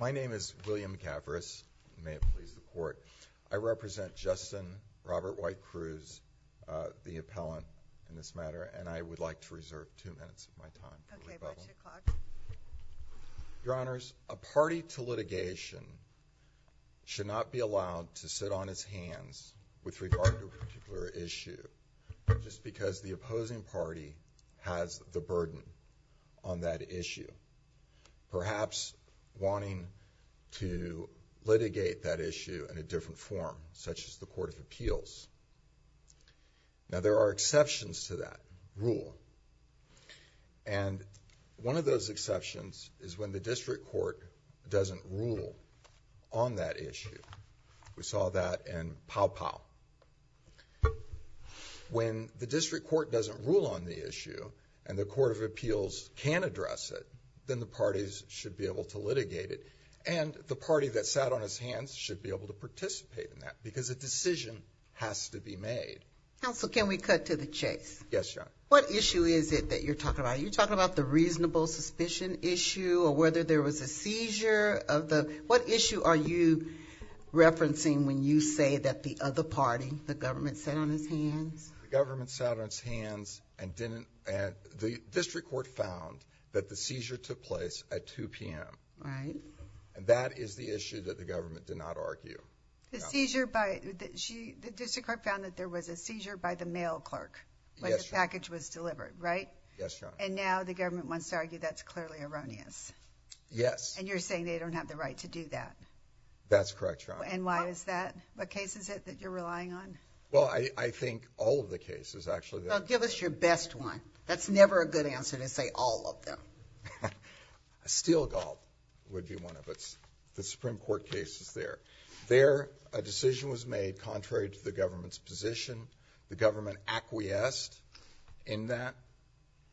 My name is William Gavris. May it please the Court. I represent Justin Robert White Cruz, the appellant in this matter, and I would like to reserve two minutes of my time. Your Honors, a party to litigation should not be allowed to sit on its hands with regard to a party that's wanting to litigate that issue in a different form, such as the Court of Appeals. Now there are exceptions to that rule, and one of those exceptions is when the District Court doesn't rule on that issue. We saw that in Pow-Pow. When the District Court doesn't rule on the issue, and the Court of Appeals can address it, then the parties should be able to litigate it, and the party that sat on its hands should be able to participate in that, because a decision has to be made. Counsel, can we cut to the chase? Yes, Your Honor. What issue is it that you're talking about? Are you talking about the reasonable suspicion issue, or whether there was a seizure? What issue are you referencing when you say that the other party, the government, sat on its hands? The government sat on its hands, and the District Court found that the seizure took place at 2 p.m. Right. And that is the issue that the government did not argue. The District Court found that there was a seizure by the mail clerk when the package was delivered, right? Yes, Your Honor. And now the government wants to argue that's clearly erroneous. Yes. And you're saying they don't have the right to do that? That's correct, Your Honor. And why is that? What case is it that you're relying on? Well, I think all of the cases, actually. Well, give us your best one. That's never a good answer to say all of them. Steele-Gauld would be one of the Supreme Court cases there. There, a decision was made contrary to the government's position. The government acquiesced in that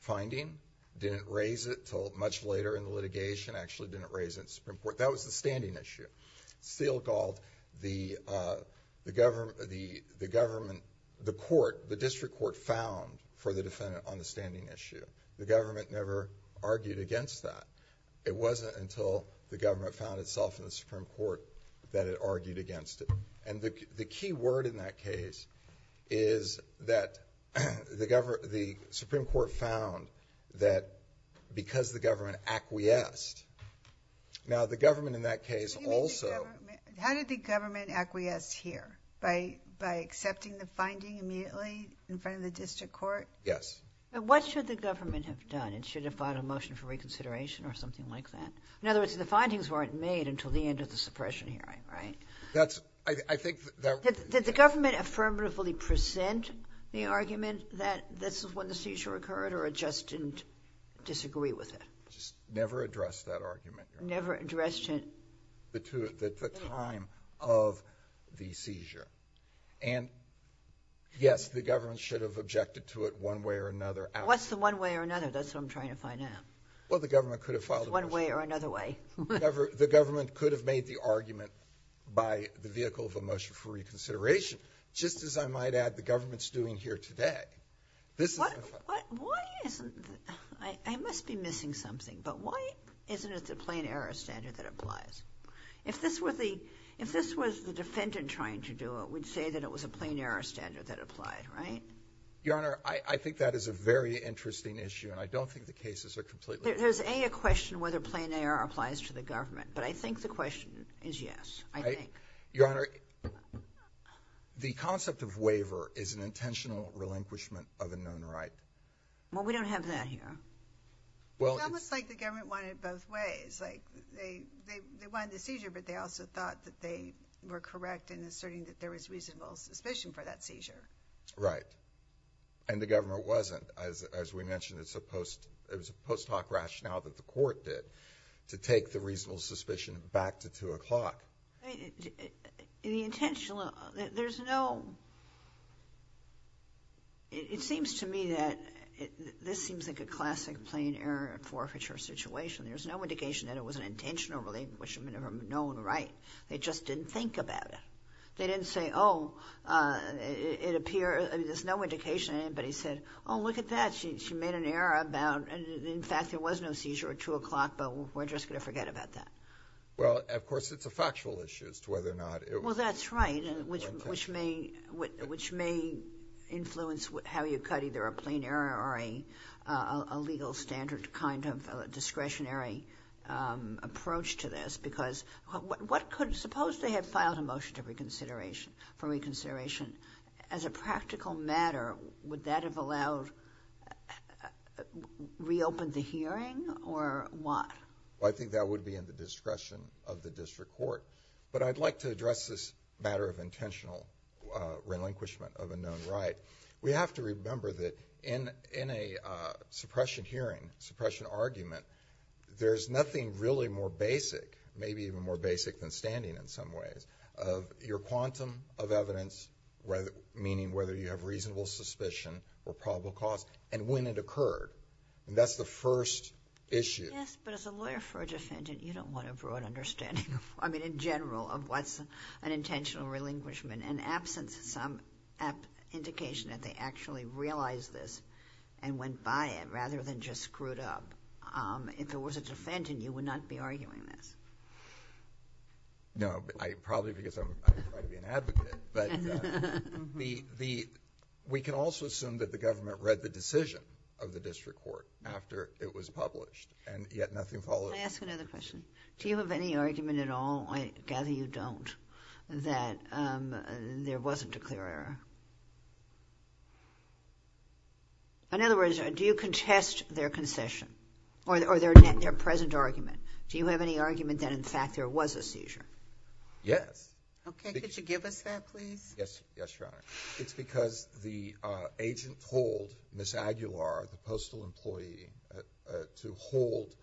finding, didn't raise it until much later in the litigation, actually didn't raise it in the Supreme Court. That was the standing issue. Steele-Gauld, the district court found for the defendant on the standing issue. The government never argued against that. It wasn't until the government found itself in the Supreme Court that it argued against it. And the key word in that case is that the Supreme Court found that because the government acquiesced... Now, the government in that case also... How did the government acquiesce here? By accepting the finding immediately in front of the district court? Yes. What should the government have done? It should have filed a motion for reconsideration or something like that? In other words, the findings weren't made until the end of the suppression hearing, right? That's... I think that... Did the government affirmatively present the argument that this is when the seizure occurred or it just didn't disagree with it? Just never addressed that argument. Never addressed it? The time of the seizure. And, yes, the government should have objected to it one way or another. What's the one way or another? That's what I'm trying to find out. Well, the government could have filed... One way or another way. The government could have made the argument by the vehicle of a motion for reconsideration, just as I might add the government's doing here today. Why isn't... I must be missing something, but why isn't it the plain error standard that applies? If this was the defendant trying to do it, we'd say that it was a plain error standard that applied, right? Your Honor, I think that is a very interesting issue, and I don't think the cases are completely... There's a question whether plain error applies to the government, but I think the question is yes, I think. Your Honor, the concept of waiver is an intentional relinquishment of a known right. Well, we don't have that here. Well, it's... It's almost like the government wanted it both ways. They wanted the seizure, but they also thought that they were correct in asserting that there was reasonable suspicion for that seizure. Right. And the government wasn't. As we mentioned, it was a post hoc rationale that the court did to take the reasonable suspicion back to 2 o'clock. The intentional... There's no... It seems to me that this seems like a classic plain error and forfeiture situation. There's no indication that it was an intentional relinquishment of a known right. They just didn't think about it. They didn't say, oh, it appears... There's no indication that anybody said, oh, look at that, she made an error about... In fact, there was no seizure at 2 o'clock, but we're just going to forget about that. Well, of course, it's a factual issue as to whether or not it was... Well, that's right, which may influence how you cut either a plain error or a legal standard kind of discretionary approach to this. Because what could... Suppose they had filed a motion for reconsideration. As a practical matter, would that have allowed... reopened the hearing or what? I think that would be in the discretion of the district court. But I'd like to address this matter of intentional relinquishment of a known right. We have to remember that in a suppression hearing, suppression argument, there's nothing really more basic, maybe even more basic than standing in some ways, of your quantum of evidence, meaning whether you have reasonable suspicion or probable cause and when it occurred. That's the first issue. Yes, but as a lawyer for a defendant, you don't want a broad understanding of... I mean, in general, of what's an intentional relinquishment and absence of some indication that they actually realized this and went by it rather than just screwed up. If it was a defendant, you would not be arguing this. No, probably because I'm trying to be an advocate. But we can also assume that the government read the decision of the district court after it was published and yet nothing followed. Can I ask another question? Do you have any argument at all, I gather you don't, that there wasn't a clear error? In other words, do you contest their concession or their present argument? Do you have any argument that, in fact, there was a seizure? Yes. Okay. Could you give us that, please? Yes, Your Honor. It's because the agent told Ms. Aguilar, the postal employee, to hold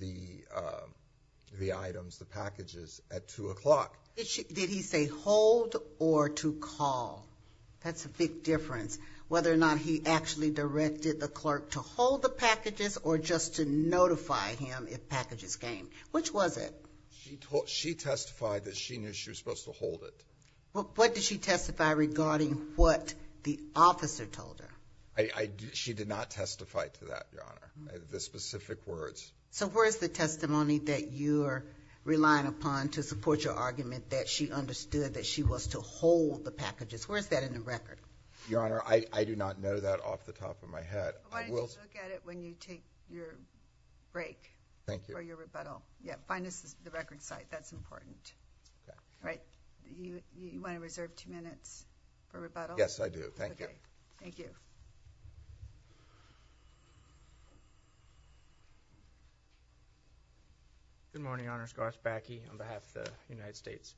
the items, the packages, at 2 o'clock. Did he say hold or to call? That's a big difference, whether or not he actually directed the clerk to hold the packages or just to notify him if packages came. Which was it? She testified that she knew she was supposed to hold it. What did she testify regarding what the officer told her? She did not testify to that, Your Honor, the specific words. So where is the testimony that you are relying upon to support your argument that she understood that she was to hold the packages? Where is that in the record? Your Honor, I do not know that off the top of my head. Why don't you look at it when you take your break? Thank you. Yeah, find us the record site. That's important. Okay. All right. You want to reserve two minutes for rebuttal? Yes, I do. Thank you. Okay. Thank you. Good morning, Honors. Garth Backe on behalf of the United States.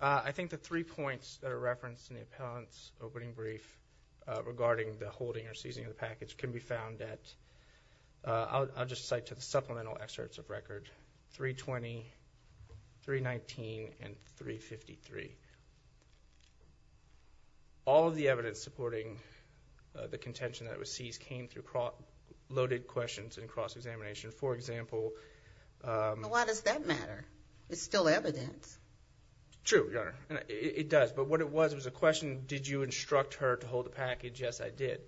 I think the three points that are referenced in the appellant's opening brief regarding the holding or seizing of the package can be found at – 320, 319, and 353. All of the evidence supporting the contention that it was seized came through loaded questions and cross-examination. For example – Why does that matter? It's still evidence. True, Your Honor. It does. But what it was, it was a question, did you instruct her to hold the package? Yes, I did.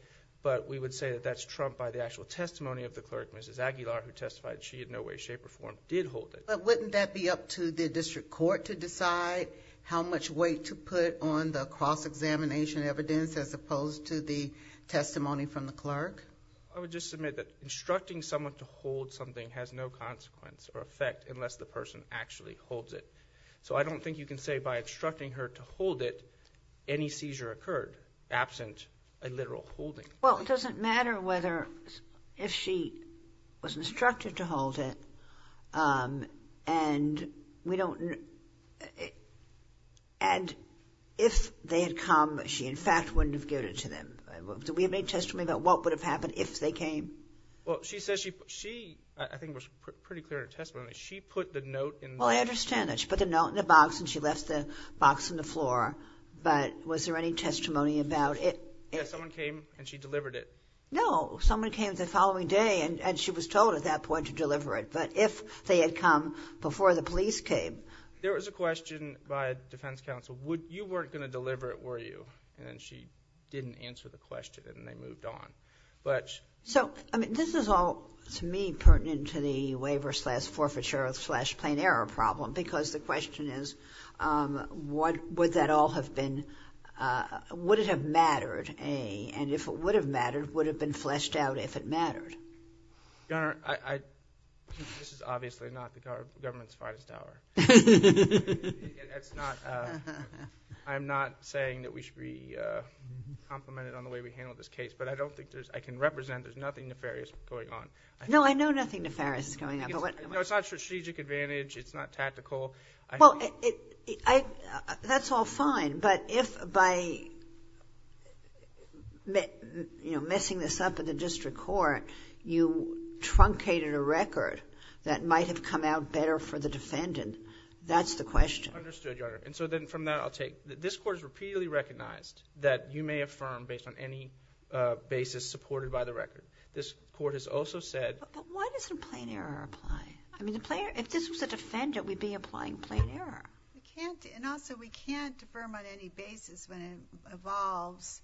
But we would say that that's trumped by the actual testimony of the clerk, Mrs. Aguilar, who testified she in no way, shape, or form did hold it. But wouldn't that be up to the district court to decide how much weight to put on the cross-examination evidence as opposed to the testimony from the clerk? I would just submit that instructing someone to hold something has no consequence or effect unless the person actually holds it. So I don't think you can say by instructing her to hold it, any seizure occurred absent a literal holding. Well, it doesn't matter whether – if she was instructed to hold it and we don't – and if they had come, she in fact wouldn't have given it to them. Do we have any testimony about what would have happened if they came? Well, she says she – she, I think it was pretty clear in her testimony, she put the note in the – Well, I understand that. She put the note in the box and she left the box on the floor. But was there any testimony about it? Yes, someone came and she delivered it. No, someone came the following day and she was told at that point to deliver it. But if they had come before the police came – There was a question by defense counsel. You weren't going to deliver it, were you? And she didn't answer the question and they moved on. So this is all, to me, pertinent to the waiver slash forfeiture slash plain error problem because the question is would that all have been – would it have mattered? And if it would have mattered, would it have been fleshed out if it mattered? Your Honor, this is obviously not the government's finest hour. That's not – I'm not saying that we should be complimented on the way we handled this case. But I don't think there's – I can represent there's nothing nefarious going on. No, I know nothing nefarious is going on. No, it's not strategic advantage. It's not tactical. Well, that's all fine. But if by messing this up in the district court, you truncated a record that might have come out better for the defendant, that's the question. Understood, Your Honor. And so then from that, I'll take – this court has repeatedly recognized that you may affirm based on any basis supported by the record. This court has also said – But why doesn't plain error apply? I mean, if this was a defendant, we'd be applying plain error. And also, we can't affirm on any basis when it involves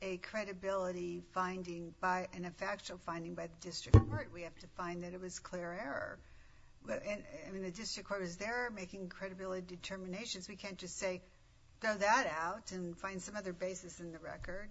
a credibility finding and a factual finding by the district court. We have to find that it was clear error. I mean, the district court is there making credibility determinations. We can't just say throw that out and find some other basis in the record.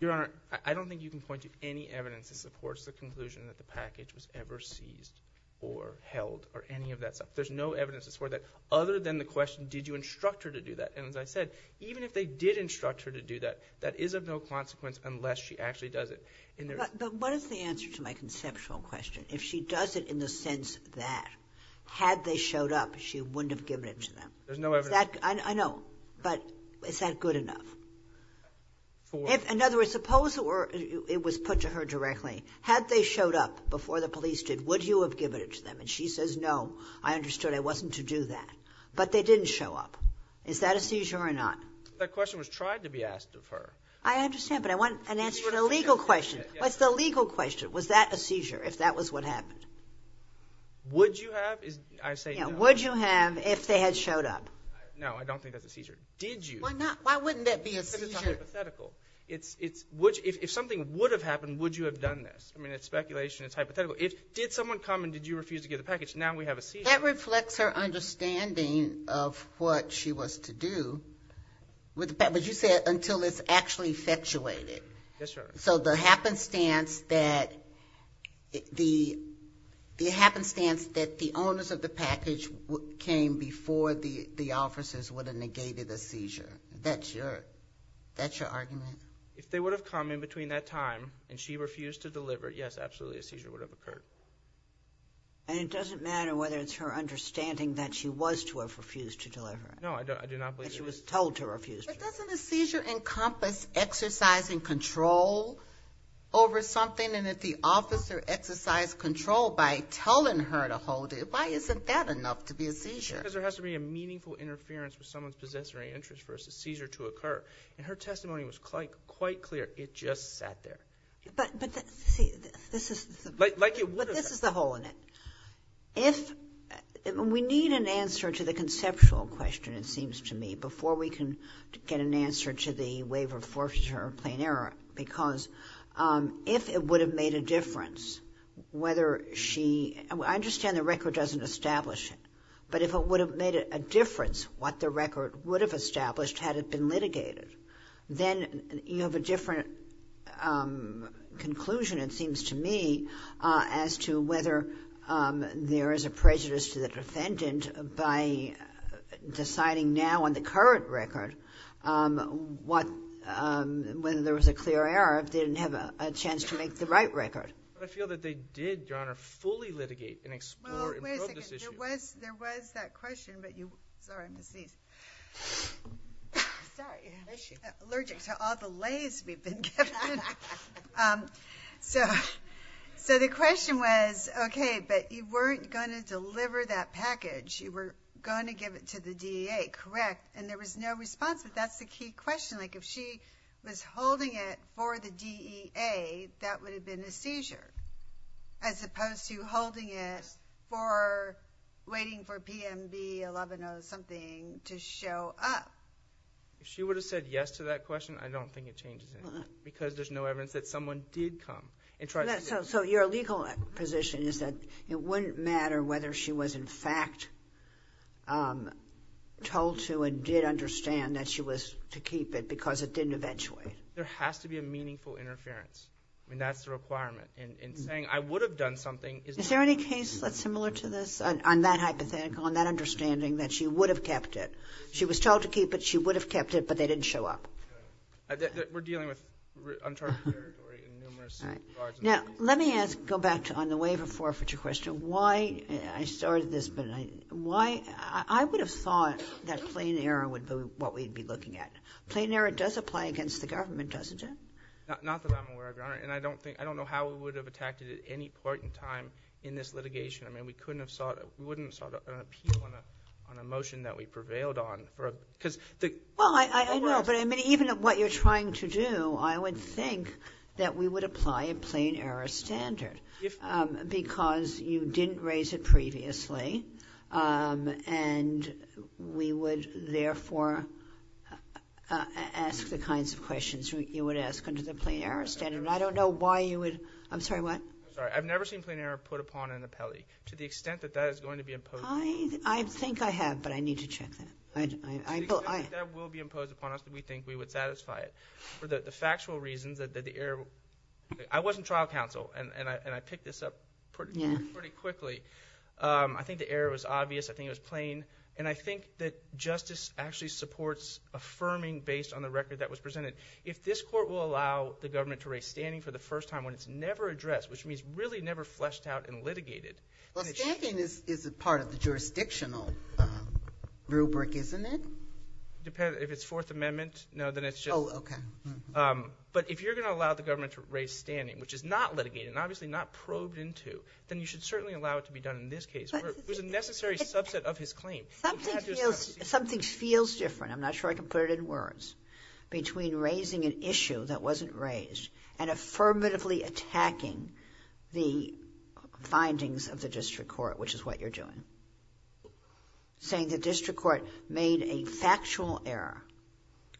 Your Honor, I don't think you can point to any evidence that supports the conclusion that the package was ever seized or held or any of that stuff. There's no evidence to support that other than the question, did you instruct her to do that? And as I said, even if they did instruct her to do that, that is of no consequence unless she actually does it. But what is the answer to my conceptual question? If she does it in the sense that had they showed up, she wouldn't have given it to them? There's no evidence. I know, but is that good enough? In other words, suppose it was put to her directly. Had they showed up before the police did, would you have given it to them? And she says, no, I understood. I wasn't to do that. But they didn't show up. Is that a seizure or not? That question was tried to be asked of her. I understand, but I want an answer to the legal question. What's the legal question? Was that a seizure if that was what happened? Would you have? Would you have if they had showed up? No, I don't think that's a seizure. Did you? Why wouldn't that be a seizure? Because it's hypothetical. If something would have happened, would you have done this? I mean, it's speculation. It's hypothetical. Did someone come and did you refuse to give the package? Now we have a seizure. That reflects her understanding of what she was to do with the package. But you said until it's actually effectuated. Yes, Your Honor. So the happenstance that the owners of the package came before the officers would have negated a seizure. That's your argument? If they would have come in between that time and she refused to deliver it, yes, absolutely, a seizure would have occurred. And it doesn't matter whether it's her understanding that she was to have refused to deliver it. No, I do not believe that. That she was told to refuse to deliver it. But doesn't a seizure encompass exercising control over something? And if the officer exercised control by telling her to hold it, why isn't that enough to be a seizure? Because there has to be a meaningful interference with someone's possessory interest for a seizure to occur. And her testimony was quite clear. It just sat there. But this is the hole in it. We need an answer to the conceptual question, it seems to me, before we can get an answer to the waiver of forfeiture or plain error. Because if it would have made a difference whether she – I understand the record doesn't establish it. But if it would have made a difference what the record would have established had it been litigated, then you have a different conclusion, it seems to me, as to whether there is a prejudice to the defendant by deciding now on the current record whether there was a clear error if they didn't have a chance to make the right record. But I feel that they did, Your Honor, fully litigate and explore and probe this issue. Well, wait a second. There was that question, but you – sorry, I'm going to sneeze. Sorry. I'm allergic to all the lays we've been given. So the question was, okay, but you weren't going to deliver that package. You were going to give it to the DEA, correct? And there was no response, but that's the key question. Like if she was holding it for the DEA, that would have been a seizure as opposed to holding it for waiting for PMB 11-0 something to show up. If she would have said yes to that question, I don't think it changes anything because there's no evidence that someone did come and tried to get it. So your legal position is that it wouldn't matter whether she was, in fact, told to and did understand that she was to keep it because it didn't eventuate. There has to be a meaningful interference. I mean, that's the requirement. And saying I would have done something is not going to change anything. Is there any case that's similar to this on that hypothetical, on that understanding that she would have kept it? She was told to keep it. She would have kept it, but they didn't show up. We're dealing with uncharted territory in numerous regards. Now, let me go back on the waiver forfeiture question. I started this, but I would have thought that plain error would be what we'd be looking at. Plain error does apply against the government, doesn't it? Not that I'm aware of, Your Honor, and I don't know how we would have attacked it at any point in time in this litigation. I mean, we wouldn't have sought an appeal on a motion that we prevailed on. Well, I know, but even what you're trying to do, I would think that we would apply a plain error standard because you didn't raise it previously, and we would therefore ask the kinds of questions you would ask under the plain error standard. I don't know why you would – I'm sorry, what? I'm sorry. I've never seen plain error put upon an appellee to the extent that that is going to be imposed. I think I have, but I need to check that. That will be imposed upon us if we think we would satisfy it. For the factual reasons that the error – I was in trial counsel, and I picked this up pretty quickly. I think the error was obvious. I think it was plain. And I think that justice actually supports affirming based on the record that was presented. If this court will allow the government to raise standing for the first time when it's never addressed, which means really never fleshed out and litigated. Well, standing is a part of the jurisdictional rubric, isn't it? If it's Fourth Amendment, no, then it's just – Oh, okay. But if you're going to allow the government to raise standing, which is not litigated and obviously not probed into, then you should certainly allow it to be done in this case. It was a necessary subset of his claim. Something feels different – I'm not sure I can put it in words – which is what you're doing, saying the district court made a factual error.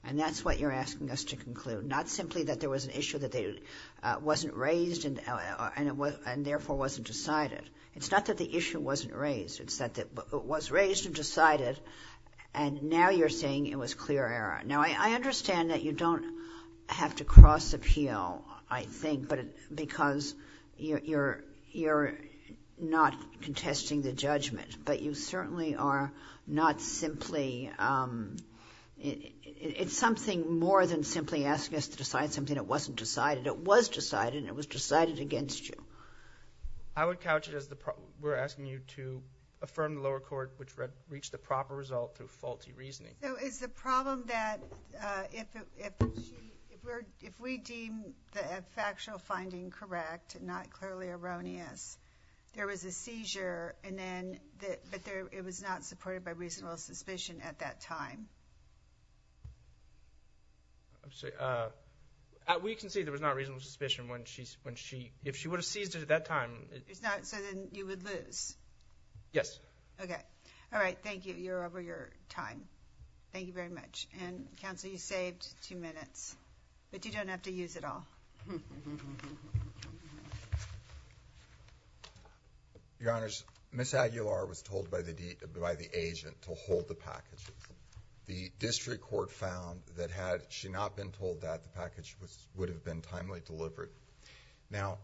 And that's what you're asking us to conclude, not simply that there was an issue that wasn't raised and therefore wasn't decided. It's not that the issue wasn't raised. It's that it was raised and decided, and now you're saying it was clear error. Now, I understand that you don't have to cross-appeal, I think, because you're not contesting the judgment. But you certainly are not simply – it's something more than simply asking us to decide something that wasn't decided. It was decided, and it was decided against you. I would couch it as we're asking you to affirm the lower court, which reached the proper result through faulty reasoning. So is the problem that if we deem the factual finding correct, not clearly erroneous, there was a seizure, but it was not supported by reasonable suspicion at that time? We can see there was not reasonable suspicion when she – if she would have seized it at that time. So then you would lose? Yes. Okay. All right. Thank you. You're over your time. Thank you very much. And, counsel, you saved two minutes, but you don't have to use it all. Your Honors, Ms. Aguilar was told by the agent to hold the package. The district court found that had she not been told that, the package would have been timely delivered. Now,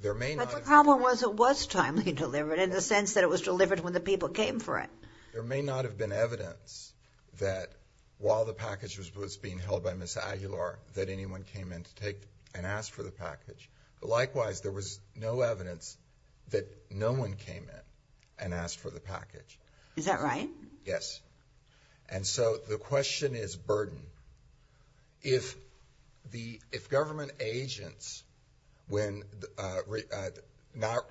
there may not have been – But the problem was it was timely delivered in the sense that it was delivered when the people came for it. There may not have been evidence that while the package was being held by Ms. Aguilar that anyone came in to take and ask for the package. Likewise, there was no evidence that no one came in and asked for the package. Is that right? Yes. And so the question is burden. If government agents when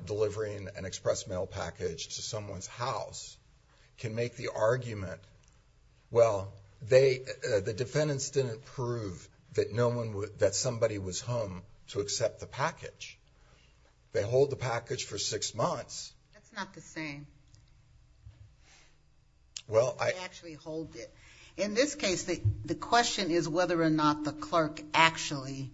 delivering an express mail package to someone's house can make the argument, well, the defendants didn't prove that somebody was home to accept the package. They hold the package for six months. That's not the same. They actually hold it. In this case, the question is whether or not the clerk actually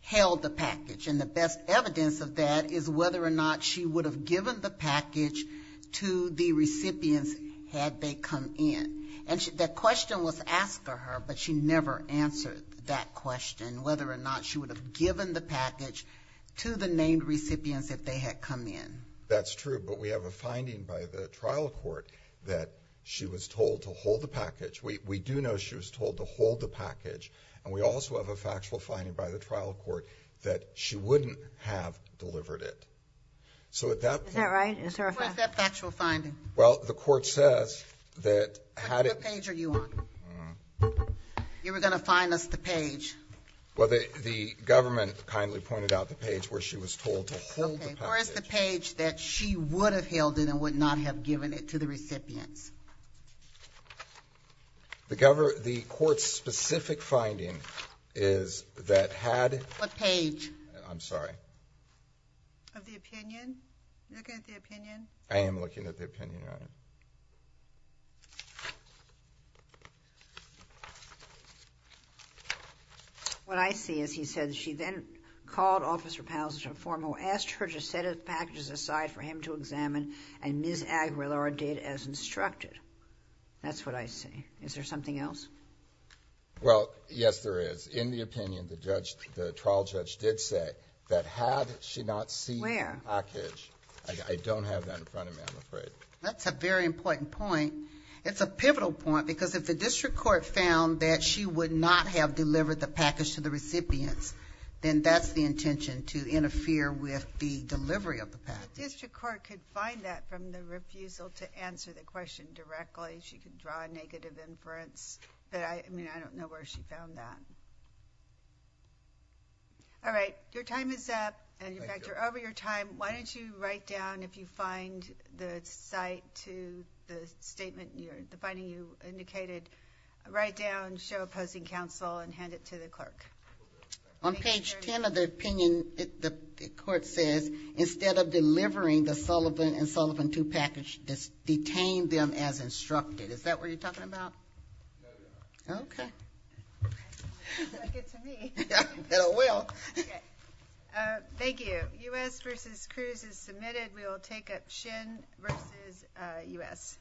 held the package. And the best evidence of that is whether or not she would have given the package to the recipients had they come in. And that question was asked of her, but she never answered that question, whether or not she would have given the package to the named recipients if they had come in. That's true, but we have a finding by the trial court that she was told to hold the package. We do know she was told to hold the package, and we also have a factual finding by the trial court that she wouldn't have delivered it. Is that right? What's that factual finding? Well, the court says that had it been ---- What page are you on? You were going to find us the page. Okay, where's the page that she would have held it and would not have given it to the recipients? The court's specific finding is that had ---- What page? I'm sorry. Of the opinion? You're looking at the opinion? I am looking at the opinion, Your Honor. Okay. What I see is he said she then called Officer Powell's informer, asked her to set the packages aside for him to examine, and Ms. Aguilar did as instructed. That's what I see. Is there something else? Well, yes, there is. In the opinion, the trial judge did say that had she not seen the package ---- Where? I don't have that in front of me, I'm afraid. That's a very important point. It's a pivotal point because if the district court found that she would not have delivered the package to the recipients, then that's the intention, to interfere with the delivery of the package. The district court could find that from the refusal to answer the question directly. She could draw a negative inference, but I don't know where she found that. All right, your time is up. Thank you. In fact, you're over your time. Why don't you write down, if you find the site to the statement, the finding you indicated, write down show opposing counsel and hand it to the clerk. On page 10 of the opinion, the court says, instead of delivering the Sullivan and Sullivan 2 package, detain them as instructed. Is that what you're talking about? No, Your Honor. Okay. Good to me. Well. Thank you. U.S. versus Cruz is submitted. We will take up Shin versus U.S.